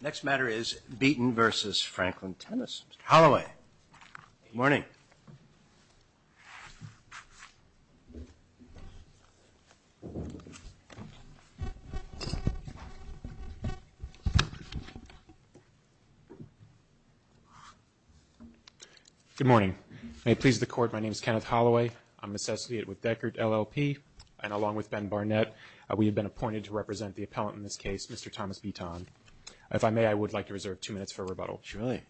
Next matter is Beaton v. Franklin Tennis. Mr. Holloway. Good morning. Good morning. May it please the Court, my name is Kenneth Holloway. I'm an associate with Deckert LLP, and along with Ben Barnett, we have been appointed to represent the appellant in this case, Mr. Thomas Beaton. If I may, I would like to reserve two minutes for rebuttal. Surely.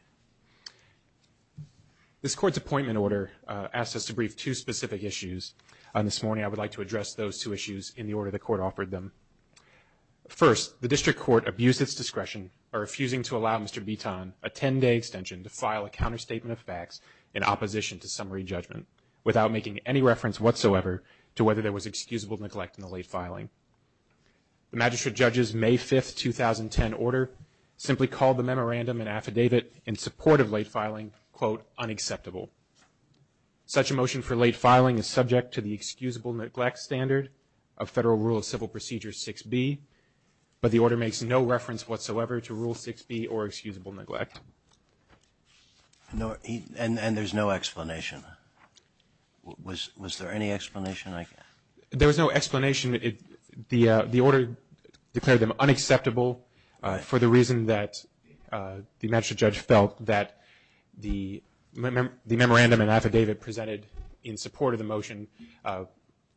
This Court's appointment order asks us to brief two specific issues. This morning I would like to address those two issues in the order the Court offered them. First, the District Court abused its discretion by refusing to allow Mr. Beaton a 10-day extension to file a counterstatement of facts in opposition to summary judgment without making any reference whatsoever to whether there was excusable neglect in the late filing. The Magistrate Judge's May 5, 2010, order simply called the memorandum and affidavit in support of late filing, quote, unacceptable. Such a motion for late filing is subject to the excusable neglect standard of Federal Rule of Civil Procedure 6B, but the order makes no reference whatsoever to Rule 6B or excusable neglect. And there's no explanation. Was there any explanation? There was no explanation. The order declared them unacceptable for the reason that the Magistrate Judge felt that the memorandum and affidavit presented in support of the motion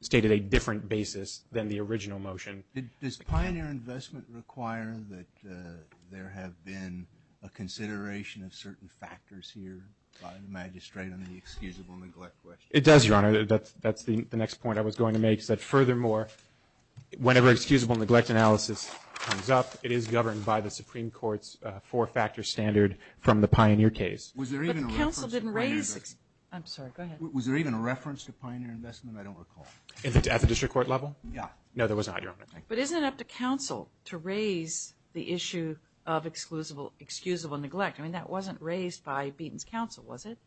stated a different basis than the original motion. Does Pioneer Investment require that there have been a consideration of certain factors here by the Magistrate on the excusable neglect question? It does, Your Honor. That's the next point I was going to make, is that furthermore, whenever excusable neglect analysis comes up, it is governed by the Supreme Court's four-factor standard from the Pioneer case. Was there even a reference to Pioneer Investment? I'm sorry. Go ahead. Was there even a reference to Pioneer Investment? I don't recall. At the district court level? Yeah. No, there was not, Your Honor. But isn't it up to counsel to raise the issue of excusable neglect? I mean, that wasn't raised by Beaton's counsel, was it?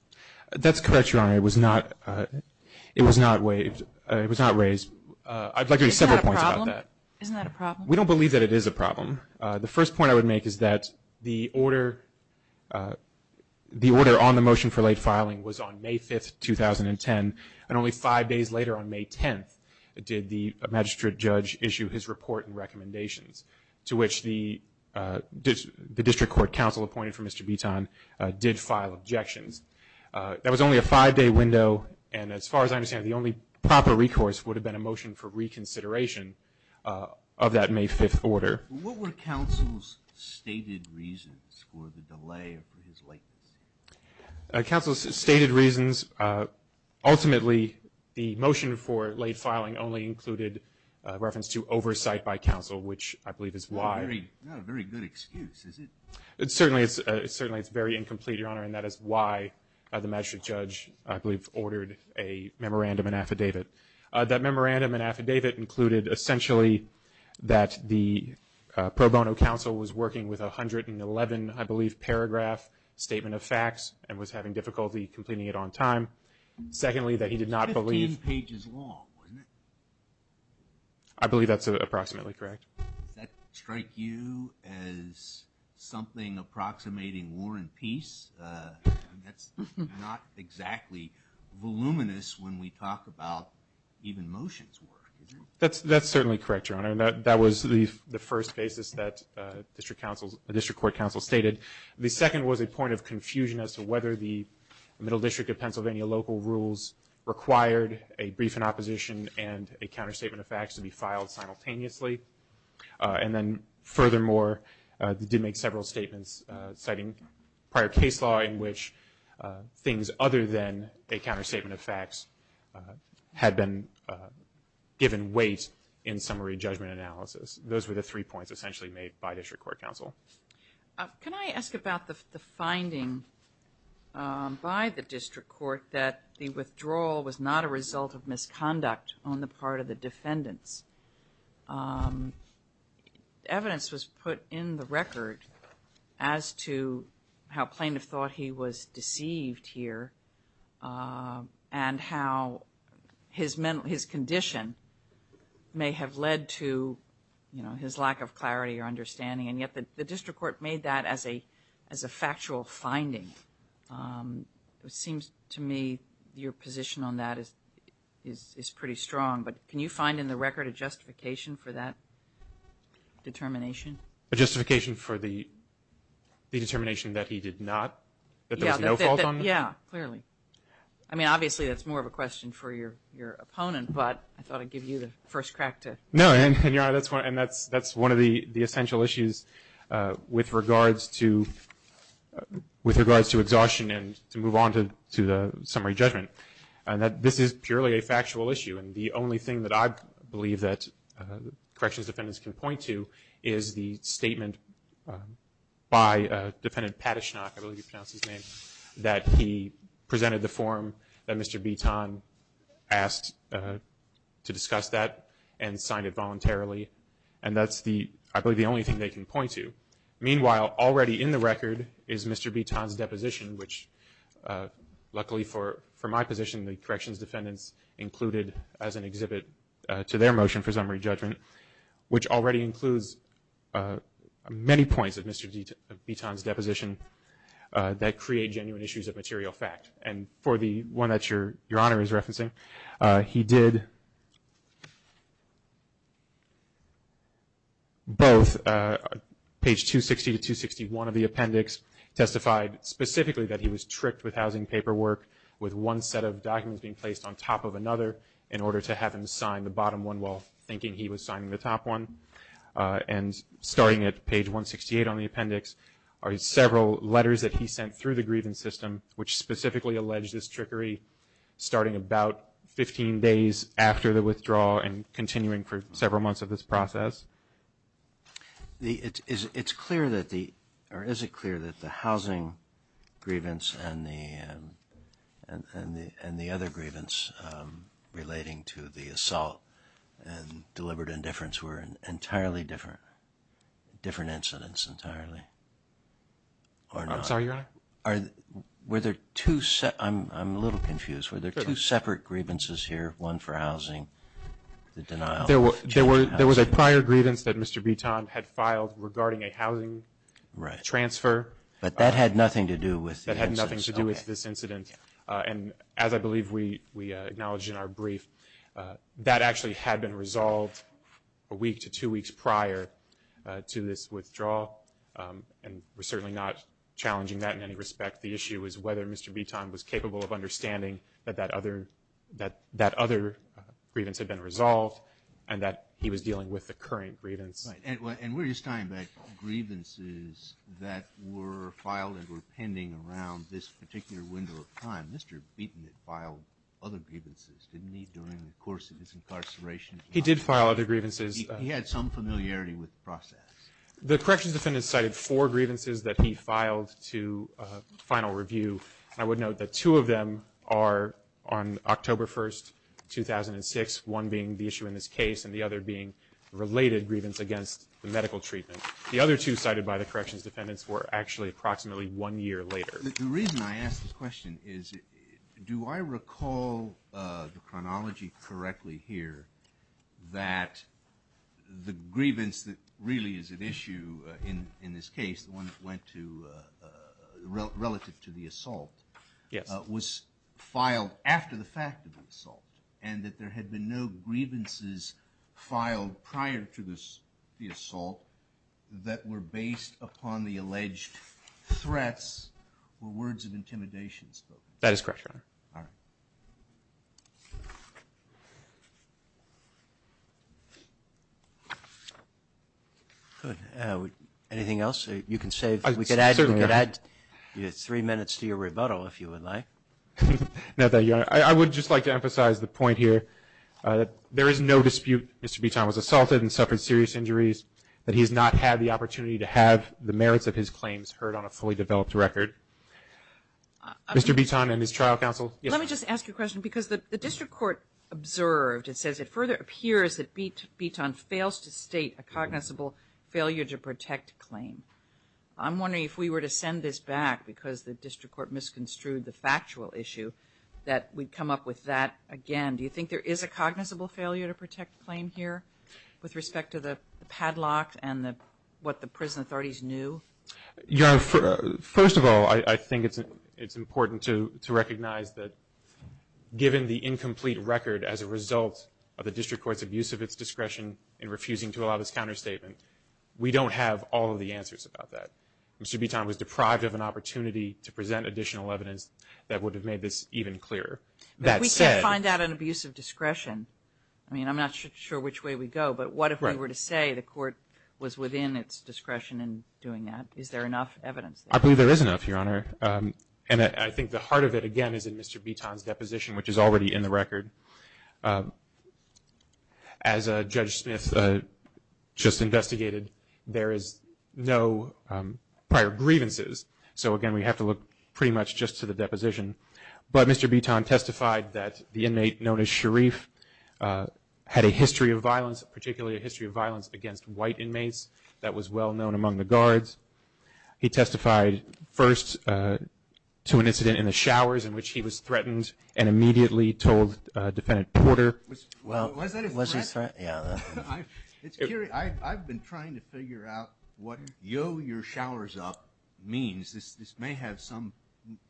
That's correct, Your Honor. It was not raised. I'd like to make several points about that. Isn't that a problem? We don't believe that it is a problem. The first point I would make is that the order on the motion for late filing was on May 5th, 2010, and only five days later, on May 10th, did the Magistrate Judge issue his report to which the district court counsel appointed for Mr. Beaton did file objections. That was only a five-day window, and as far as I understand it, the only proper recourse would have been a motion for reconsideration of that May 5th order. What were counsel's stated reasons for the delay or for his latency? Counsel's stated reasons, ultimately, the motion for late filing only included reference to oversight by counsel, which I believe is why. Not a very good excuse, is it? Certainly, it's very incomplete, Your Honor, and that is why the Magistrate Judge, I believe, ordered a memorandum and affidavit. That memorandum and affidavit included, essentially, that the pro bono counsel was working with 111, I believe, paragraph statement of facts and was having difficulty completing it on time. Secondly, that he did not believe... It was 15 pages long, wasn't it? I believe that's approximately correct. Does that strike you as something approximating war and peace? That's not exactly voluminous when we talk about even motions. That's certainly correct, Your Honor, and that was the first basis that the district court counsel stated. The second was a point of confusion as to whether the Middle District of Pennsylvania local rules required a brief in opposition and a counterstatement of facts to be filed simultaneously. And then, furthermore, they did make several statements citing prior case law in which things other than a counterstatement of facts had been given weight in summary judgment analysis. Those were the three points, essentially, made by district court counsel. Can I ask about the finding by the district court that the withdrawal was not a result of misconduct on the part of the defendants? Evidence was put in the record as to how plaintiff thought he was deceived here and how his condition may have led to his lack of clarity or understanding, and yet the district court made that as a factual finding. It seems to me your position on that is pretty strong, but can you find in the record a justification for that determination? A justification for the determination that he did not, that there was no fault on that? Yeah, clearly. I mean, obviously, that's more of a question for your opponent, but I thought I'd give you the first crack to... No, and, Your Honor, that's one of the essential issues with regards to exhaustion and to move on to the summary judgment, and that this is purely a factual issue. And the only thing that I believe that corrections defendants can point to is the statement by Defendant Patashnok, I believe you pronounced his name, that he presented the form that Mr. Bitton asked to discuss that and signed it voluntarily, and that's, I believe, the only thing they can point to. Meanwhile, already in the record is Mr. Bitton's deposition, which luckily for my position the corrections defendants included as an exhibit to their motion for summary judgment, which already includes many points of Mr. Bitton's deposition that create genuine issues of material fact. And for the one that Your Honor is referencing, he did both. Page 260 to 261 of the appendix testified specifically that he was tricked with housing paperwork with one set of documents being placed on top of another in order to have him sign the bottom one while thinking he was signing the top one. And starting at page 168 on the appendix are several letters that he sent through the grievance system, which specifically alleged this trickery starting about 15 days after the withdrawal and continuing for several months of this process. Is it clear that the housing grievance and the other grievance relating to the assault and deliberate indifference were entirely different, different incidents entirely? I'm sorry, Your Honor? Were there two separate grievances here, one for housing, the denial? There was a prior grievance that Mr. Bitton had filed regarding a housing transfer. But that had nothing to do with the incident. That had nothing to do with this incident. And as I believe we acknowledged in our brief, that actually had been resolved a week to two weeks prior to this withdrawal. And we're certainly not challenging that in any respect. The issue is whether Mr. Bitton was capable of understanding that that other grievance had been resolved and that he was dealing with the current grievance. And we're just talking about grievances that were filed and were pending around this particular window of time. Mr. Bitton had filed other grievances, didn't he, during the course of his incarceration? He did file other grievances. He had some familiarity with the process. The corrections defendant cited four grievances that he filed to final review. I would note that two of them are on October 1, 2006, one being the issue in this case and the other being related grievance against the medical treatment. The other two cited by the corrections defendants were actually approximately one year later. The reason I ask this question is, do I recall the chronology correctly here that the grievance that really is at issue in this case, relative to the assault, was filed after the fact of the assault and that there had been no grievances filed prior to the assault that were based upon the alleged threats or words of intimidation spoken? That is correct, Your Honor. All right. Anything else you can say? We could add three minutes to your rebuttal, if you would like. No, Your Honor. I would just like to emphasize the point here that there is no dispute that Mr. Bitton was assaulted and suffered serious injuries, that he has not had the opportunity to have the merits of his claims heard on a fully developed record. Mr. Bitton and his trial counsel? Let me just ask you a question because the district court observed, it says, that Bitton fails to state a cognizable failure to protect claim. I'm wondering if we were to send this back, because the district court misconstrued the factual issue, that we'd come up with that again. Do you think there is a cognizable failure to protect claim here with respect to the padlock and what the prison authorities knew? Your Honor, first of all, I think it's important to recognize that given the incomplete record as a result of the district court's abuse of its discretion in refusing to allow this counterstatement, we don't have all of the answers about that. Mr. Bitton was deprived of an opportunity to present additional evidence that would have made this even clearer. But we can't find out an abuse of discretion. I mean, I'm not sure which way we go, but what if we were to say the court was within its discretion in doing that? Is there enough evidence there? I believe there is enough, Your Honor. And I think the heart of it, again, is in Mr. Bitton's deposition, which is already in the record. As Judge Smith just investigated, there is no prior grievances. So, again, we have to look pretty much just to the deposition. But Mr. Bitton testified that the inmate known as Sharif had a history of violence, particularly a history of violence against white inmates that was well known among the guards. He testified first to an incident in the showers in which he was threatened and immediately told Defendant Porter. Was that a threat? I've been trying to figure out what yo your showers up means. This may have some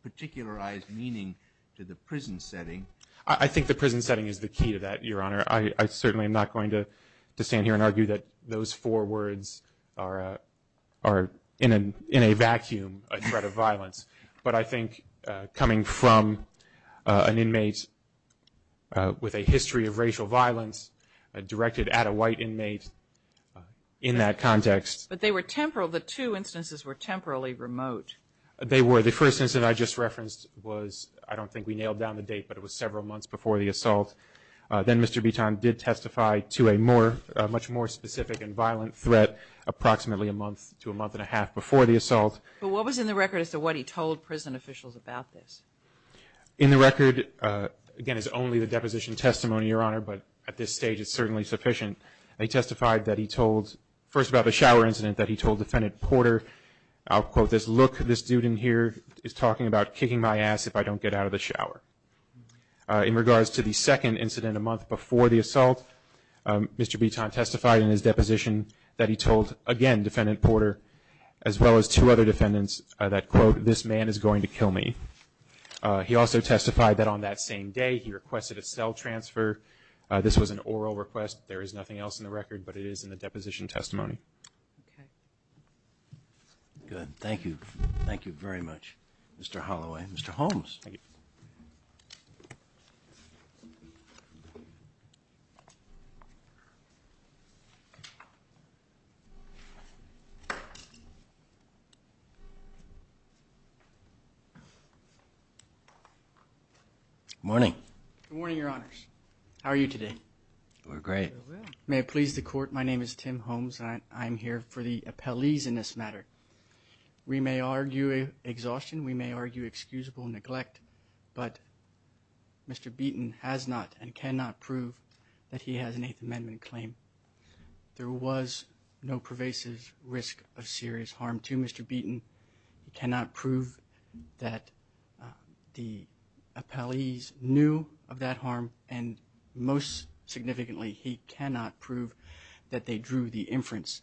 particularized meaning to the prison setting. I think the prison setting is the key to that, Your Honor. I certainly am not going to stand here and argue that those four words are in a vacuum a threat of violence. But I think coming from an inmate with a history of racial violence directed at a white inmate in that context. But they were temporal. The two instances were temporally remote. They were. The first instance I just referenced was, I don't think we nailed down the date, but it was several months before the assault. Then Mr. Bitton did testify to a much more specific and violent threat approximately a month to a month and a half before the assault. But what was in the record as to what he told prison officials about this? In the record, again, it's only the deposition testimony, Your Honor, but at this stage it's certainly sufficient. He testified that he told, first about the shower incident, that he told Defendant Porter, I'll quote this, look, this dude in here is talking about kicking my ass if I don't get out of the shower. In regards to the second incident a month before the assault, Mr. Bitton testified in his deposition that he told, again, Defendant Porter as well as two other defendants that, quote, this man is going to kill me. He also testified that on that same day he requested a cell transfer. This was an oral request. There is nothing else in the record, but it is in the deposition testimony. Good. Thank you. Thank you very much, Mr. Holloway. Thank you, Mr. Holmes. Thank you. Good morning. Good morning, Your Honors. How are you today? We're great. May it please the Court, my name is Tim Holmes and I'm here for the appellees in this matter. We may argue exhaustion, we may argue excusable neglect, but Mr. Bitton has not and cannot prove that he has an Eighth Amendment claim. There was no pervasive risk of serious harm to Mr. Bitton. He cannot prove that the appellees knew of that harm, and most significantly he cannot prove that they drew the inference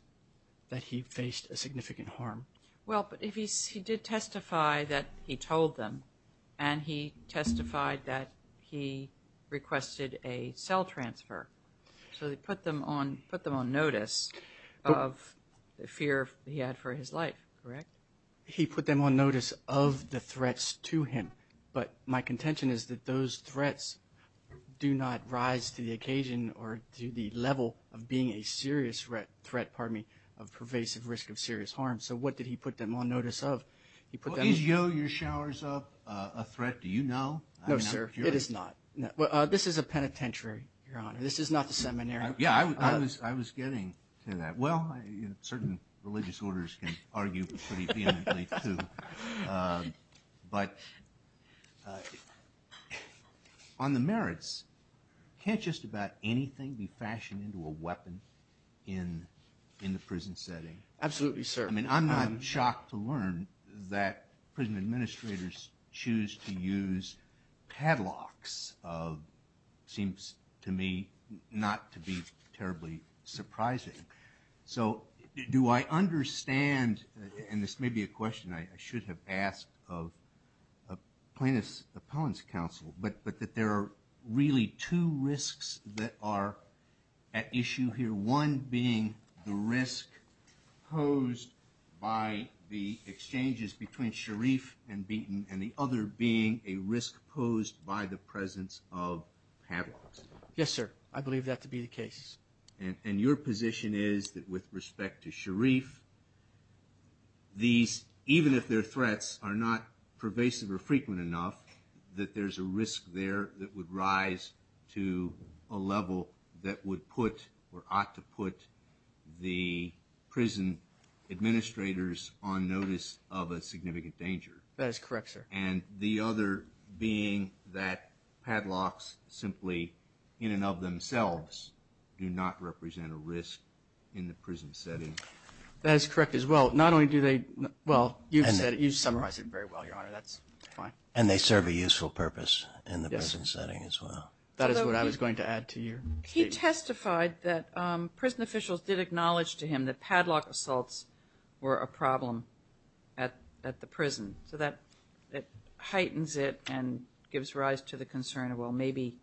that he faced a significant harm. Well, but he did testify that he told them, and he testified that he requested a cell transfer. So he put them on notice of the fear he had for his life, correct? He put them on notice of the threats to him. But my contention is that those threats do not rise to the occasion or to the level of being a serious threat of pervasive risk of serious harm. So what did he put them on notice of? Is yo-yo showers up a threat? Do you know? No, sir. It is not. This is a penitentiary, Your Honor. This is not the seminary. Yeah, I was getting to that. Well, certain religious orders can argue pretty vehemently, too. But on the merits, can't just about anything be fashioned into a weapon in the prison setting? Absolutely, sir. I mean, I'm shocked to learn that prison administrators choose to use padlocks. It seems to me not to be terribly surprising. So do I understand, and this may be a question I should have asked of a plaintiff's appellant's counsel, but that there are really two risks that are at issue here, one being the risk posed by the exchanges between Sharif and Beaton and the other being a risk posed by the presence of padlocks? Yes, sir. I believe that to be the case. And your position is that with respect to Sharif, these, even if they're threats, are not pervasive or frequent enough, that there's a risk there that would rise to a level that would put or ought to put the prison administrators on notice of a significant danger. That is correct, sir. And the other being that padlocks simply, in and of themselves, do not represent a risk in the prison setting. That is correct as well. Not only do they, well, you've said it, you've summarized it very well, Your Honor, that's fine. And they serve a useful purpose in the prison setting as well. That is what I was going to add to your statement. He testified that prison officials did acknowledge to him that padlock assaults were a problem at the prison. So that heightens it and gives rise to the concern of, well, maybe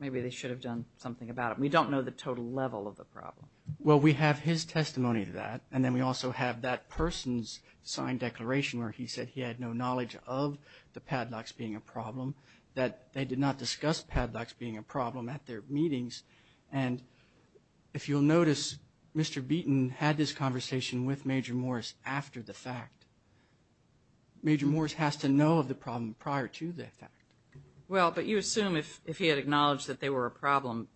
they should have done something about it. We don't know the total level of the problem. Well, we have his testimony to that, and then we also have that person's signed declaration where he said he had no knowledge of the padlocks being a problem, that they did not discuss padlocks being a problem at their meetings. And if you'll notice, Mr. Beaton had this conversation with Major Morris after the fact. Major Morris has to know of the problem prior to the fact. Well, but you assume if he had acknowledged that they were a problem,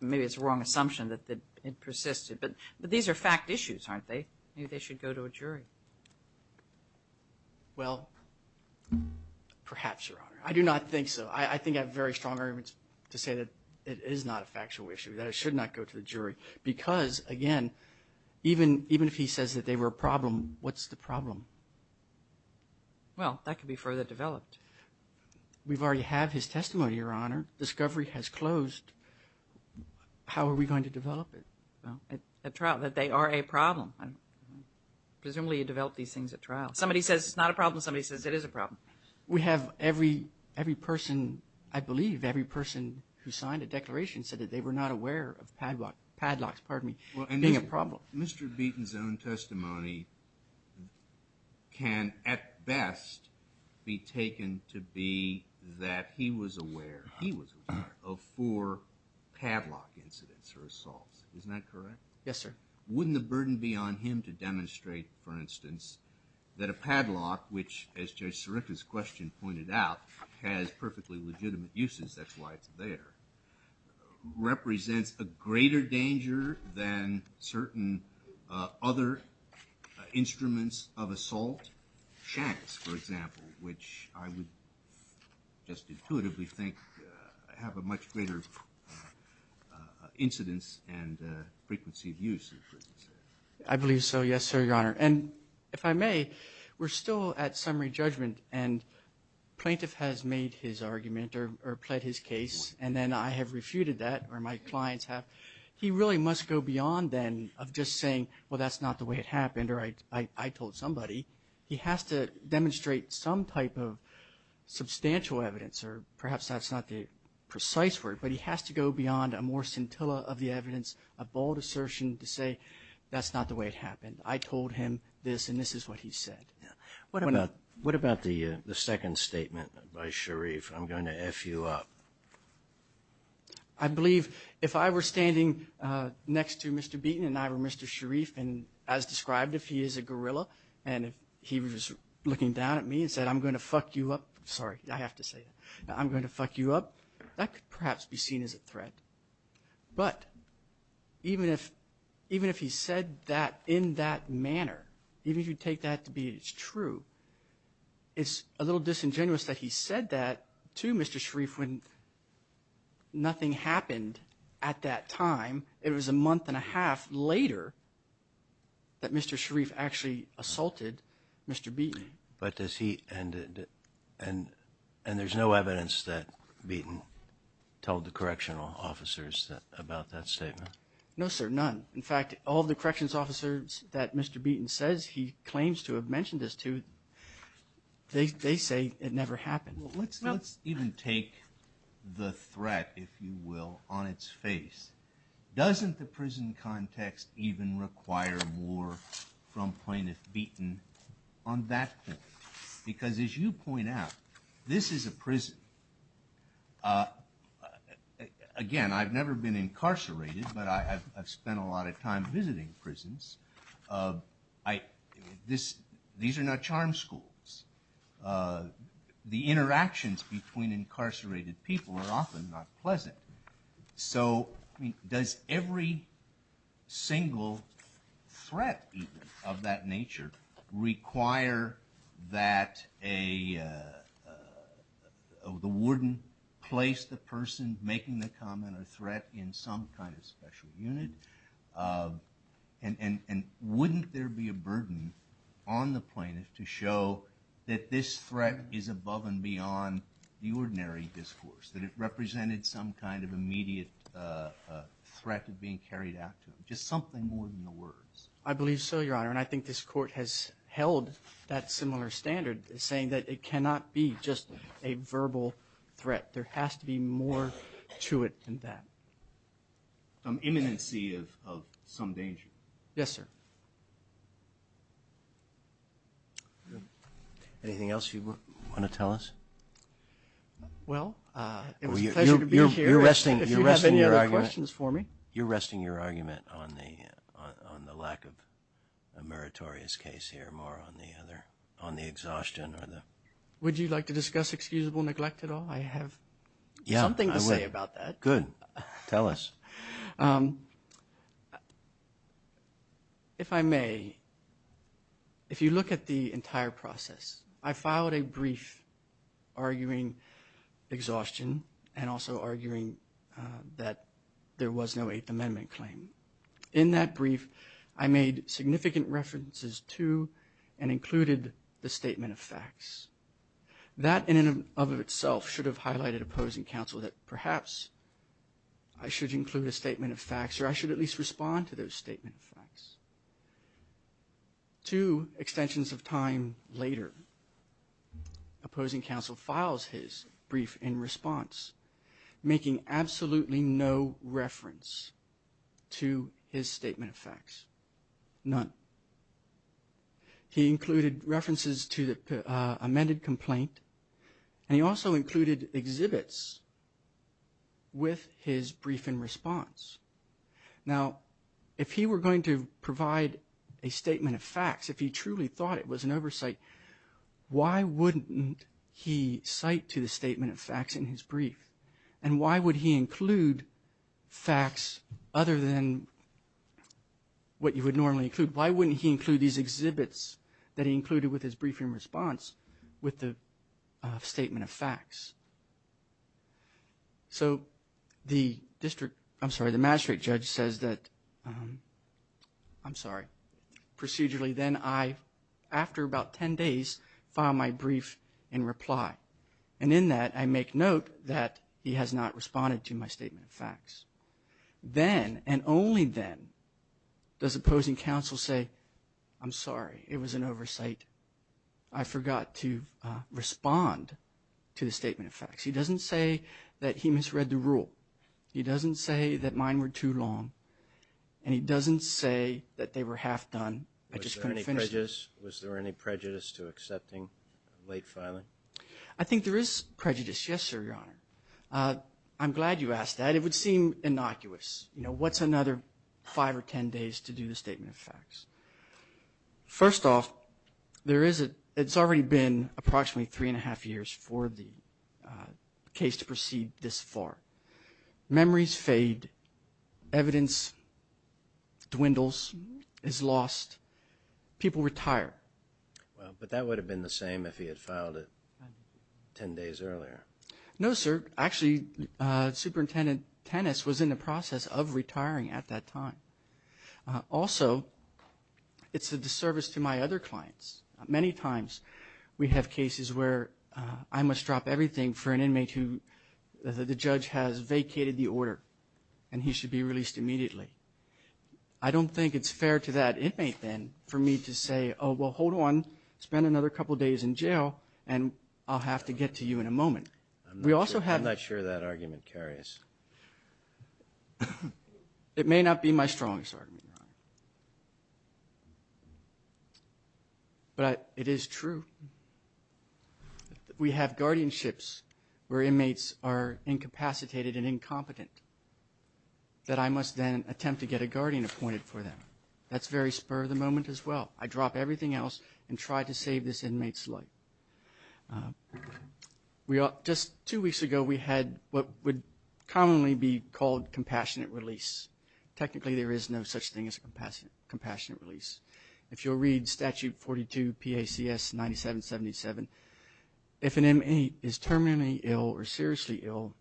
maybe it's a wrong assumption that it persisted. But these are fact issues, aren't they? Maybe they should go to a jury. Well, perhaps, Your Honor. I do not think so. I think I have very strong arguments to say that it is not a factual issue, that it should not go to the jury. Because, again, even if he says that they were a problem, what's the problem? Well, that could be further developed. We already have his testimony, Your Honor. Discovery has closed. How are we going to develop it? At trial, that they are a problem. Presumably you develop these things at trial. Somebody says it's not a problem. Somebody says it is a problem. We have every person, I believe, every person who signed a declaration said that they were not aware of padlocks being a problem. Mr. Beaton's own testimony can at best be taken to be that he was aware, he was aware, of four padlock incidents or assaults. Isn't that correct? Yes, sir. Wouldn't the burden be on him to demonstrate, for instance, that a padlock, which, as Judge Sirica's question pointed out, has perfectly legitimate uses, that's why it's there, represents a greater danger than certain other instruments of assault? Shanks, for example, which I would just intuitively think have a much greater incidence and frequency of use. I believe so, yes, sir, Your Honor. And if I may, we're still at summary judgment, and plaintiff has made his argument or pled his case, and then I have refuted that or my clients have. He really must go beyond then of just saying, well, that's not the way it happened, or I told somebody. He has to demonstrate some type of substantial evidence, or perhaps that's not the precise word, but he has to go beyond a more scintilla of the evidence, a bold assertion to say, that's not the way it happened. I told him this, and this is what he said. What about the second statement by Sharif? I'm going to F you up. I believe if I were standing next to Mr. Beaton and I were Mr. Sharif, and as described, if he is a guerrilla, and if he was looking down at me and said, I'm going to F you up, sorry, I have to say that, I'm going to F you up, that could perhaps be seen as a threat. But even if he said that in that manner, even if you take that to be true, it's a little disingenuous that he said that to Mr. Sharif when nothing happened at that time. It was a month and a half later that Mr. Sharif actually assaulted Mr. Beaton. But does he, and there's no evidence that Beaton told the correctional officers about that statement? No, sir, none. In fact, all the corrections officers that Mr. Beaton says he claims to have mentioned this to, they say it never happened. Let's even take the threat, if you will, on its face. Doesn't the prison context even require more from Plaintiff Beaton on that point? Because as you point out, this is a prison. Again, I've never been incarcerated, but I've spent a lot of time visiting prisons. These are not charm schools. The interactions between incarcerated people are often not pleasant. So does every single threat of that nature require that the warden place the person making the comment or threat in some kind of special unit? And wouldn't there be a burden on the plaintiff to show that this threat is above and beyond the ordinary discourse, that it represented some kind of immediate threat of being carried out to him, just something more than the words? I believe so, Your Honor, and I think this Court has held that similar standard, saying that it cannot be just a verbal threat. There has to be more to it than that. Imminency of some danger. Yes, sir. Anything else you want to tell us? Well, it was a pleasure to be here. If you have any other questions for me. You're resting your argument on the lack of a meritorious case here, more on the exhaustion. Would you like to discuss excusable neglect at all? I have something to say about that. Good. Tell us. If I may, if you look at the entire process, I filed a brief arguing exhaustion and also arguing that there was no Eighth Amendment claim. In that brief, I made significant references to and included the statement of facts. That in and of itself should have highlighted opposing counsel that perhaps I should include a statement of facts or I should at least respond to those statement of facts. Two extensions of time later, opposing counsel files his brief in response, making absolutely no reference to his statement of facts. None. He included references to the amended complaint. And he also included exhibits with his brief in response. Now, if he were going to provide a statement of facts, if he truly thought it was an oversight, why wouldn't he cite to the statement of facts in his brief? And why would he include facts other than what you would normally include? Why wouldn't he include these exhibits that he included with his brief in response with the statement of facts? So the district, I'm sorry, the magistrate judge says that, I'm sorry, procedurally, then I, after about 10 days, file my brief in reply. And in that, I make note that he has not responded to my statement of facts. Then and only then does opposing counsel say, I'm sorry, it was an oversight. I forgot to respond to the statement of facts. He doesn't say that he misread the rule. He doesn't say that mine were too long. And he doesn't say that they were half done. I just couldn't finish them. Was there any prejudice to accepting late filing? I think there is prejudice, yes, sir, Your Honor. I'm glad you asked that. And it would seem innocuous, you know, what's another five or 10 days to do the statement of facts? First off, there is a, it's already been approximately three and a half years for the case to proceed this far. Memories fade. Evidence dwindles, is lost. People retire. Well, but that would have been the same if he had filed it 10 days earlier. No, sir. Actually, Superintendent Tennis was in the process of retiring at that time. Also, it's a disservice to my other clients. Many times we have cases where I must drop everything for an inmate who the judge has vacated the order, and he should be released immediately. I don't think it's fair to that inmate then for me to say, oh, well, hold on, spend another couple days in jail, I'm not sure that argument carries. It may not be my strongest argument, Your Honor, but it is true. We have guardianships where inmates are incapacitated and incompetent, that I must then attempt to get a guardian appointed for them. That's very spur of the moment as well. I drop everything else and try to save this inmate's life. Just two weeks ago, we had what would commonly be called compassionate release. Technically, there is no such thing as a compassionate release. If you'll read Statute 42 PACS 9777, if an inmate is terminally ill or seriously ill,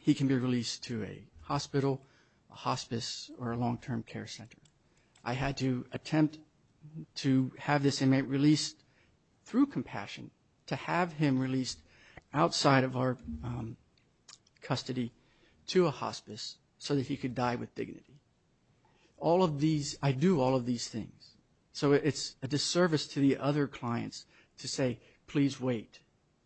he can be released to a hospital, a hospice, or a long-term care center. I had to attempt to have this inmate released through compassion, to have him released outside of our custody to a hospice so that he could die with dignity. All of these, I do all of these things. So it's a disservice to the other clients to say, please wait.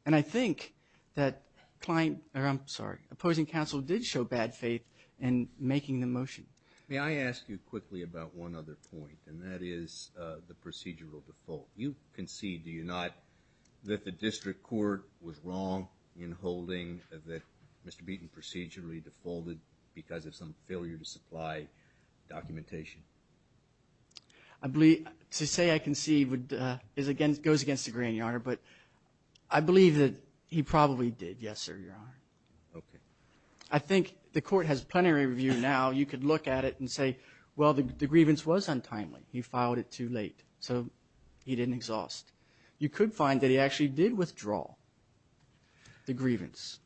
And I think that client, or I'm sorry, opposing counsel did show bad faith in making the motion. May I ask you quickly about one other point, and that is the procedural default. You concede, do you not, that the district court was wrong in holding that Mr. Beaton procedurally defaulted because of some failure to supply documentation? I believe to say I concede goes against the grain, Your Honor, but I believe that he probably did, yes, sir, Your Honor. Okay. I think the court has plenary review now. You could look at it and say, well, the grievance was untimely. He filed it too late, so he didn't exhaust. You could find that he actually did withdraw the grievance,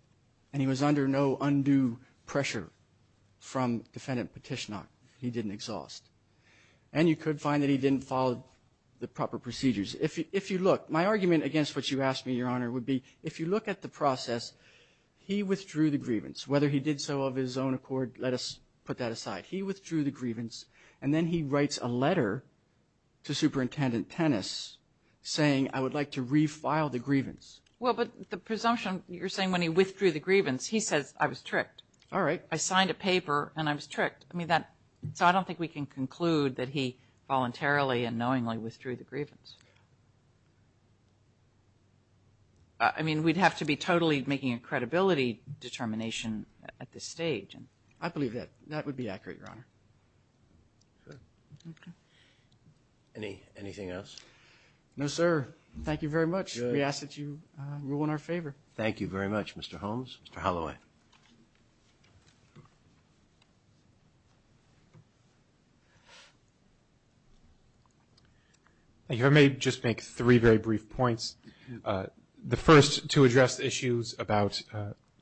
and he was under no undue pressure from Defendant Petitioner. He didn't exhaust. And you could find that he didn't follow the proper procedures. If you look, my argument against what you asked me, Your Honor, would be if you look at the process, he withdrew the grievance. Whether he did so of his own accord, let us put that aside. He withdrew the grievance, and then he writes a letter to Superintendent Tennis saying, I would like to refile the grievance. Well, but the presumption you're saying when he withdrew the grievance, he says, I was tricked. All right. I signed a paper, and I was tricked. So I don't think we can conclude that he voluntarily and knowingly withdrew the grievance. I mean, we'd have to be totally making a credibility determination at this stage. I believe that. That would be accurate, Your Honor. Okay. Anything else? No, sir. Thank you very much. We ask that you rule in our favor. Thank you very much, Mr. Holmes. Mr. Holloway. Thank you, Your Honor. If I may just make three very brief points. The first, to address the issues about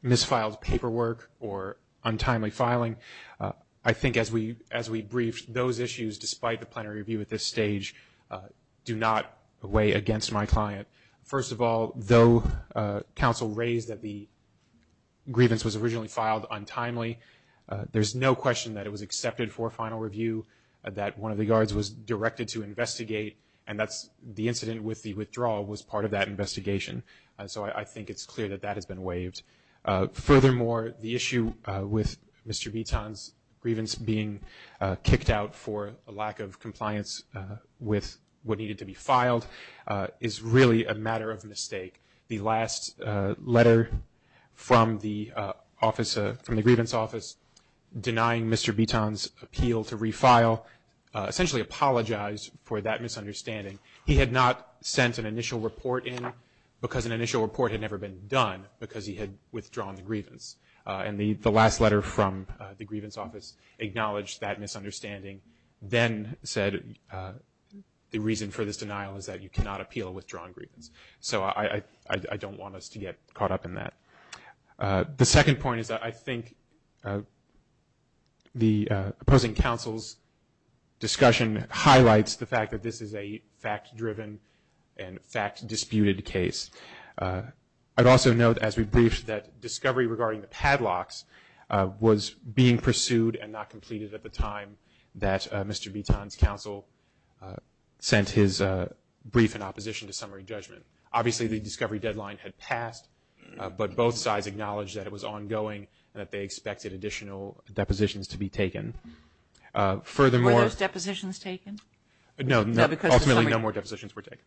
misfiled paperwork or untimely filing. I think as we briefed, those issues, despite the plenary review at this stage, do not weigh against my client. First of all, though counsel raised that the grievance was originally filed untimely, there's no question that it was accepted for a final review, that one of the guards was directed to investigate, and the incident with the withdrawal was part of that investigation. So I think it's clear that that has been waived. Furthermore, the issue with Mr. Vuitton's grievance being kicked out for a lack of compliance with what needed to be filed is really a matter of mistake. The last letter from the office, from the grievance office, denying Mr. Vuitton's appeal to refile, essentially apologized for that misunderstanding. He had not sent an initial report in because an initial report had never been done, because he had withdrawn the grievance. And the last letter from the grievance office acknowledged that misunderstanding, then said the reason for this denial is that you cannot appeal a withdrawn grievance. So I don't want us to get caught up in that. The second point is that I think the opposing counsel's discussion highlights the fact that this is a fact-driven and fact-disputed case. I'd also note, as we briefed, that discovery regarding the padlocks was being pursued and not completed at the time that Mr. Vuitton's counsel sent his brief in opposition to summary judgment. Obviously, the discovery deadline had passed, but both sides acknowledged that it was ongoing and that they expected additional depositions to be taken. Were those depositions taken? No, ultimately no more depositions were taken.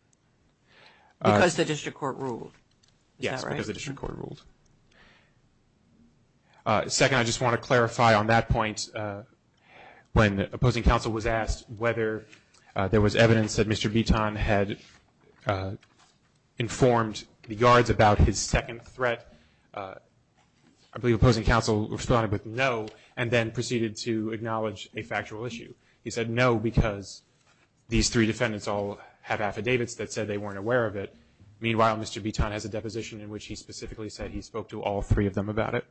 Because the district court ruled? Yes, because the district court ruled. Second, I just want to clarify on that point, when opposing counsel was asked whether there was evidence that Mr. Vuitton had informed the yards about his second threat, I believe opposing counsel responded with no and then proceeded to acknowledge a factual issue. He said no because these three defendants all have affidavits that said they weren't aware of it. Meanwhile, Mr. Vuitton has a deposition in which he specifically said he spoke to all three of them about it.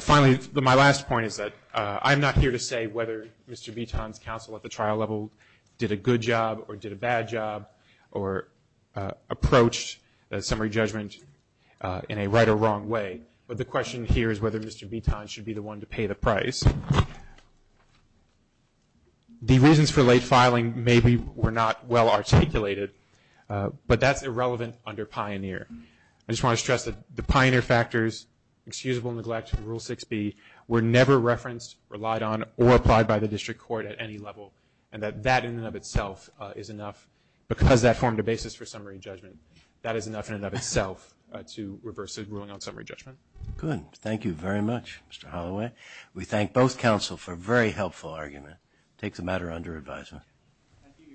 Finally, my last point is that I'm not here to say whether Mr. Vuitton's counsel at the trial level did a good job or did a bad job or approached a summary judgment in a right or wrong way. But the question here is whether Mr. Vuitton should be the one to pay the price. The reasons for late filing maybe were not well articulated, but that's irrelevant under Pioneer. I just want to stress that the Pioneer factors, excusable neglect, Rule 6b, were never referenced, relied on, or applied by the district court at any level and that that in and of itself is enough because that formed a basis for summary judgment. That is enough in and of itself to reverse a ruling on summary judgment. Good. Thank you very much, Mr. Holloway. We thank both counsel for a very helpful argument. Take the matter under advisement.